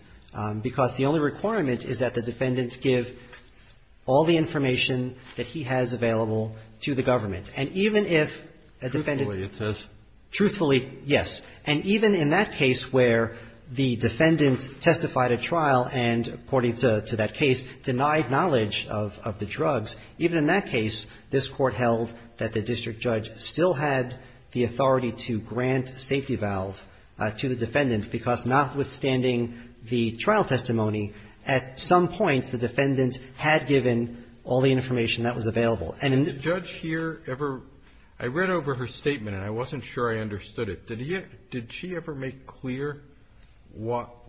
because the only requirement is that the defendant give all the information that he has available to the government. And even if a defendant ---- Truthfully, it says. Truthfully, yes. denied knowledge of the drugs. Even in that case, this Court held that the district judge still had the authority to grant safety valve to the defendant, because notwithstanding the trial testimony, at some point the defendant had given all the information that was available. And in the ---- Did the judge here ever ---- I read over her statement, and I wasn't sure I understood it, did she ever make clear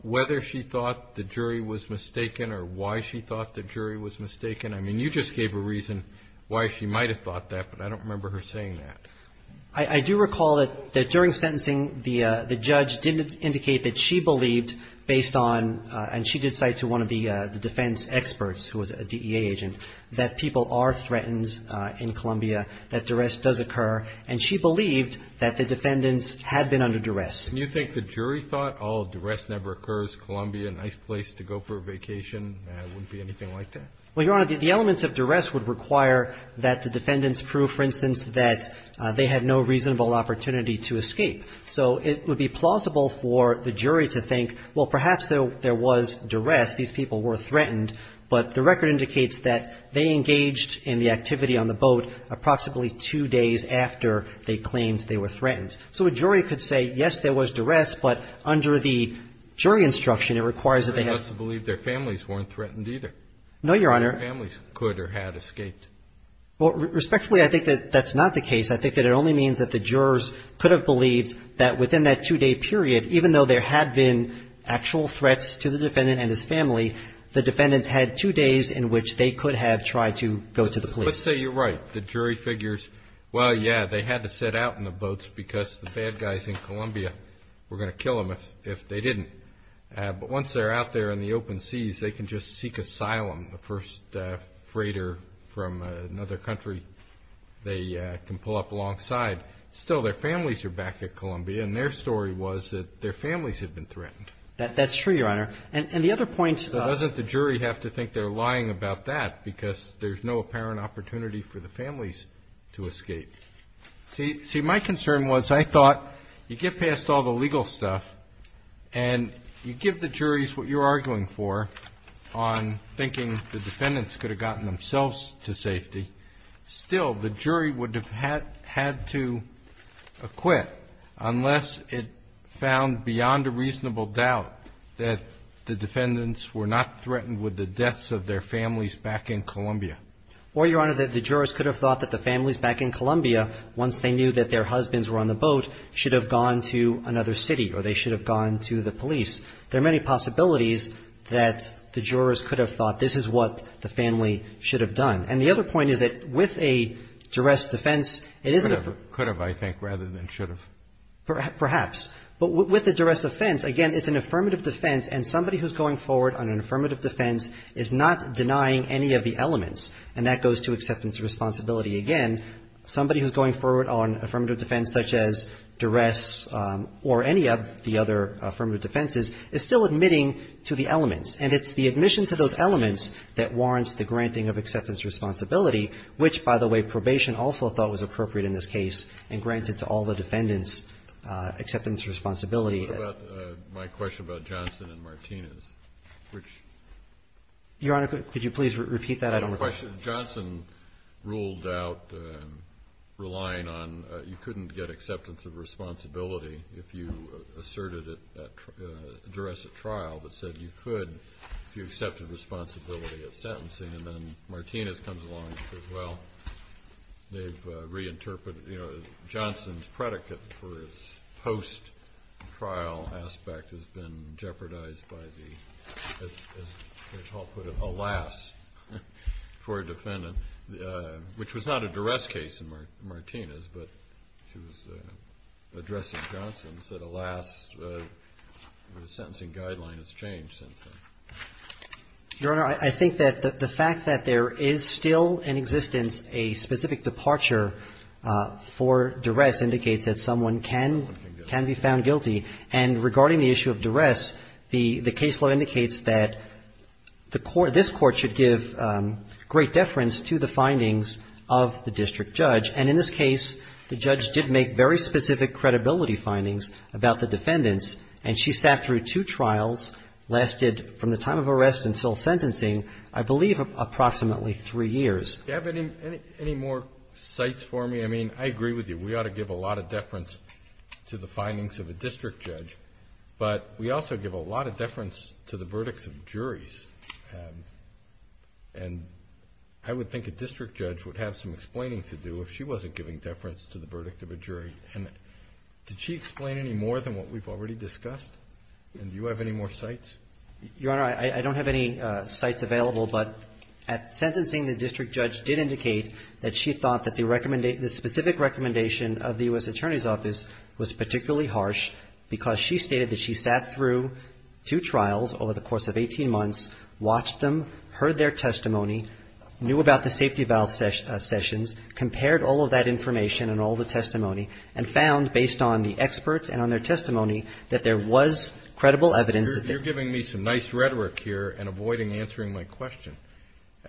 whether she thought the jury was mistaken or why she thought the jury was mistaken? I mean, you just gave a reason why she might have thought that, but I don't remember her saying that. I do recall that during sentencing the judge didn't indicate that she believed based on, and she did cite to one of the defense experts who was a DEA agent, that people are threatened in Columbia, that duress does occur. And she believed that the defendants had been under duress. And you think the jury thought, oh, duress never occurs, Columbia, a nice place to go for a vacation, it wouldn't be anything like that? Well, Your Honor, the elements of duress would require that the defendants prove, for instance, that they had no reasonable opportunity to escape. So it would be plausible for the jury to think, well, perhaps there was duress, these people were threatened, but the record indicates that they engaged in the activity on the boat approximately two days after they claimed they were threatened. So a jury could say, yes, there was duress, but under the jury instruction, it requires that they have to believe their families weren't threatened either. No, Your Honor. Their families could or had escaped. Well, respectfully, I think that that's not the case. I think that it only means that the jurors could have believed that within that two-day period, even though there had been actual threats to the defendant and his family, the defendants had two days in which they could have tried to go to the police. Let's say you're right. The jury figures, well, yeah, they had to set out in the boats because the bad guys in Columbia were going to kill them if they didn't. But once they're out there in the open seas, they can just seek asylum. The first freighter from another country, they can pull up alongside. Still, their families are back at Columbia, and their story was that their families had been threatened. That's true, Your Honor. And the other point is that the jury have to think they're lying about that because there's no apparent opportunity for the families to escape. See, my concern was I thought you get past all the legal stuff and you give the juries what you're arguing for on thinking the defendants could have gotten themselves to safety. Still, the jury would have had to acquit unless it found beyond a reasonable doubt that the defendants were not threatened with the deaths of their families back in Columbia. Or, Your Honor, that the jurors could have thought that the families back in Columbia, once they knew that their husbands were on the boat, should have gone to another city or they should have gone to the police. There are many possibilities that the jurors could have thought this is what the family should have done. And the other point is that with a duress defense, it isn't the first. Could have, I think, rather than should have. Perhaps. But with a duress offense, again, it's an affirmative defense. And somebody who's going forward on an affirmative defense is not denying any of the elements. And that goes to acceptance of responsibility. Again, somebody who's going forward on affirmative defense such as duress or any of the other affirmative defenses is still admitting to the elements. And it's the admission to those elements that warrants the granting of acceptance of responsibility, which, by the way, probation also thought was appropriate in this case and granted to all the defendants acceptance of responsibility. My question about Johnson and Martinez, which. Your Honor, could you please repeat that? I don't know the question. Johnson ruled out relying on you couldn't get acceptance of responsibility if you asserted it at duress at trial, but said you could if you accepted responsibility at sentencing. And then Martinez comes along and says, well, they've reinterpreted, you know, this post-trial aspect has been jeopardized by the, as Judge Hall put it, alas for a defendant, which was not a duress case in Martinez, but she was addressing Johnson and said alas, the sentencing guideline has changed since then. Your Honor, I think that the fact that there is still in existence a specific departure for duress indicates that someone can be found guilty. And regarding the issue of duress, the case law indicates that the court, this Court should give great deference to the findings of the district judge. And in this case, the judge did make very specific credibility findings about the defendants, and she sat through two trials, lasted from the time of arrest until sentencing, I believe approximately three years. Do you have any more sites for me? I mean, I agree with you. We ought to give a lot of deference to the findings of a district judge, but we also give a lot of deference to the verdicts of juries. And I would think a district judge would have some explaining to do if she wasn't giving deference to the verdict of a jury. And did she explain any more than what we've already discussed? And do you have any more sites? Your Honor, I don't have any sites available, but at sentencing, the district judge did indicate that she thought that the specific recommendation of the U.S. Attorney's Office was particularly harsh because she stated that she sat through two trials over the course of 18 months, watched them, heard their testimony, knew about the safety valve sessions, compared all of that information and all the testimony, and found, based on the experts and on their testimony, that there was credible evidence that there was. You're giving me some nice rhetoric here and avoiding answering my question.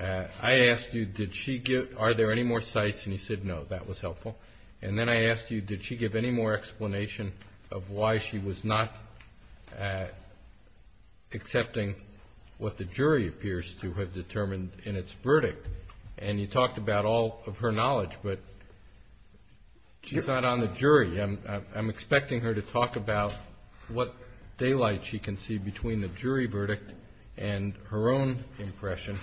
I asked you, did she give – are there any more sites? And you said no. That was helpful. And then I asked you, did she give any more explanation of why she was not accepting what the jury appears to have determined in its verdict? And you talked about all of her knowledge, but she's not on the jury. I'm expecting her to talk about what daylight she can see between the jury verdict and her own impression,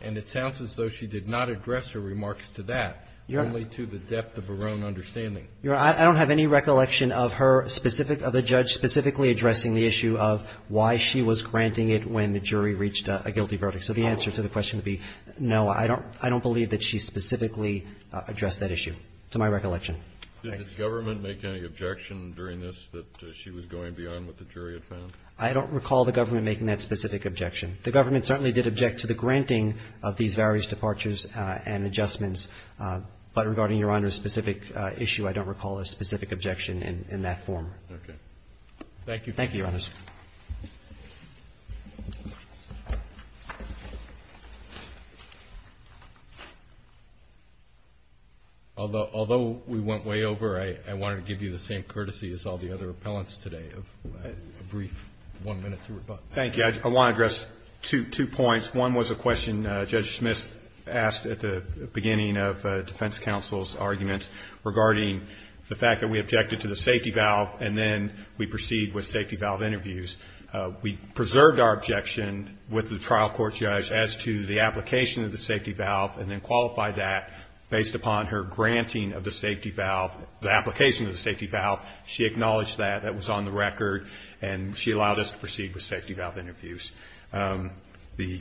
and it sounds as though she did not address her remarks to that, only to the depth of her own understanding. Your Honor, I don't have any recollection of her specific – of the judge specifically addressing the issue of why she was granting it when the jury reached a guilty verdict. So the answer to the question would be no. I don't believe that she specifically addressed that issue, to my recollection. Did the government make any objection during this that she was going beyond what the jury had found? I don't recall the government making that specific objection. The government certainly did object to the granting of these various departures and adjustments, but regarding Your Honor's specific issue, I don't recall a specific objection in that form. Okay. Thank you. Thank you, Your Honors. Although we went way over, I wanted to give you the same courtesy as all the other appellants today of a brief one minute to rebut. Thank you. I want to address two points. One was a question Judge Smith asked at the beginning of defense counsel's arguments regarding the fact that we objected to the safety valve and then we proceed with safety valve interviews. We preserved our objection with the trial court judge as to the application of the safety valve and then qualified that based upon her granting of the safety valve, the application of the safety valve. She acknowledged that. That was on the record, and she allowed us to proceed with safety valve interviews. Do you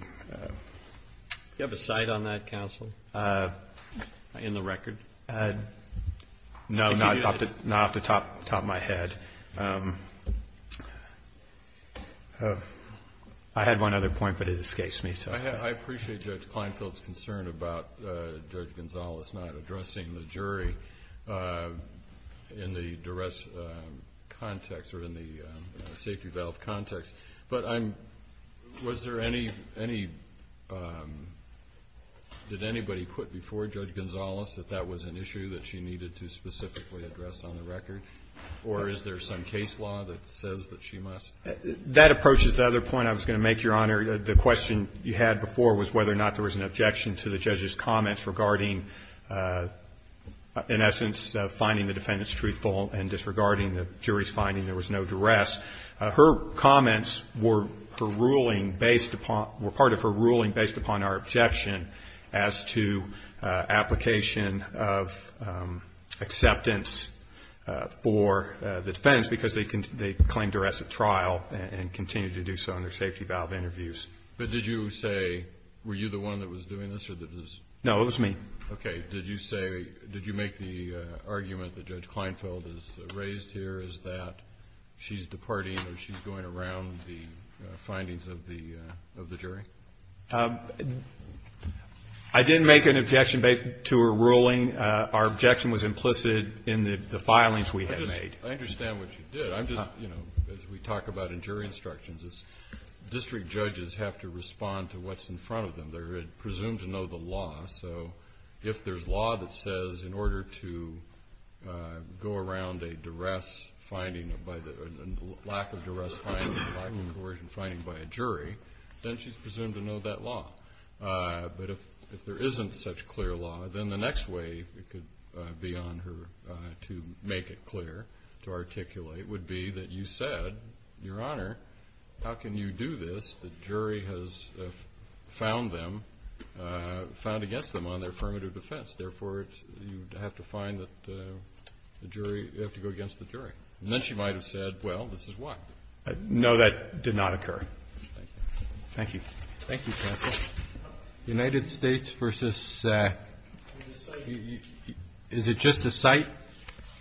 have a cite on that, counsel, in the record? No, not off the top of my head. I had one other point, but it escapes me. I appreciate Judge Kleinfeld's concern about Judge Gonzales not addressing the jury in the duress context or in the safety valve context, but was there any, did anybody put before Judge Gonzales that that was an issue that she needed to specifically address on the record, or is there some case law that says that she must? That approaches the other point I was going to make, Your Honor. The question you had before was whether or not there was an objection to the judge's comments regarding, in essence, finding the defendant's truthful and disregarding the jury's finding there was no duress. Her comments were her ruling based upon, were part of her ruling based upon our objection as to application of acceptance for the defendants because they claimed duress at trial and continued to do so in their safety valve interviews. But did you say, were you the one that was doing this or did this? No, it was me. Okay. Did you say, did you make the argument that Judge Kleinfeld has raised here is that she's departing or she's going around the findings of the jury? I didn't make an objection to her ruling. Our objection was implicit in the filings we had made. I understand what you did. I'm just, you know, as we talk about in jury instructions, district judges have to respond to what's in front of them. They're presumed to know the law. So if there's law that says in order to go around a duress finding, a lack of duress finding by a jury, then she's presumed to know that law. But if there isn't such clear law, then the next way it could be on her to make it clear, to articulate, would be that you said, Your Honor, how can you do this? The jury has found them, found against them on their affirmative defense. Therefore, you have to find that the jury, you have to go against the jury. And then she might have said, Well, this is why. No, that did not occur. Thank you. Thank you, counsel. United States versus the site. Is it just the site?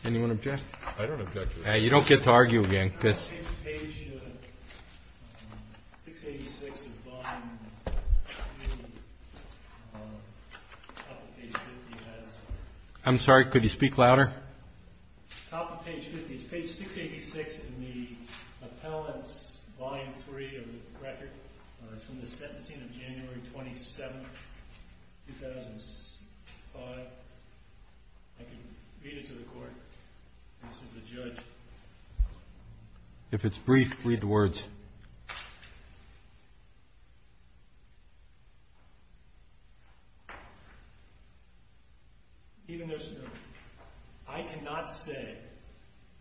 Anyone object? I don't object to it. You don't get to argue again. Page 686 of bond. I'm sorry, could you speak louder? Top of page 50. It's page 686 in the appellant's volume 3 of the record. It's from the sentencing of January 27, 2005. I can read it to the court. This is the judge. If it's brief, read the words. Even there's no... I cannot say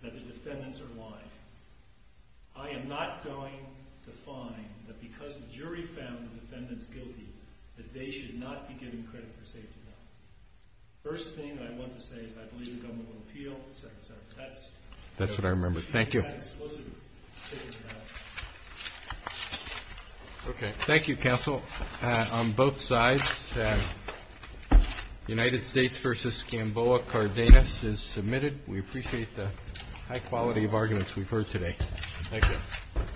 that the defendants are lying. I am not going to find that because the jury found the defendants guilty, that they should not be given credit for safety. First thing I want to say is I believe the government will appeal, et cetera, et cetera. That's... That's what I remembered. Thank you. Okay. Thank you, counsel. On both sides, United States versus Skamboa Cardenas is submitted. We appreciate the high quality of arguments we've heard today. Thank you. All rise. The hearing is adjourned. Go ahead. Thank you. Thank you.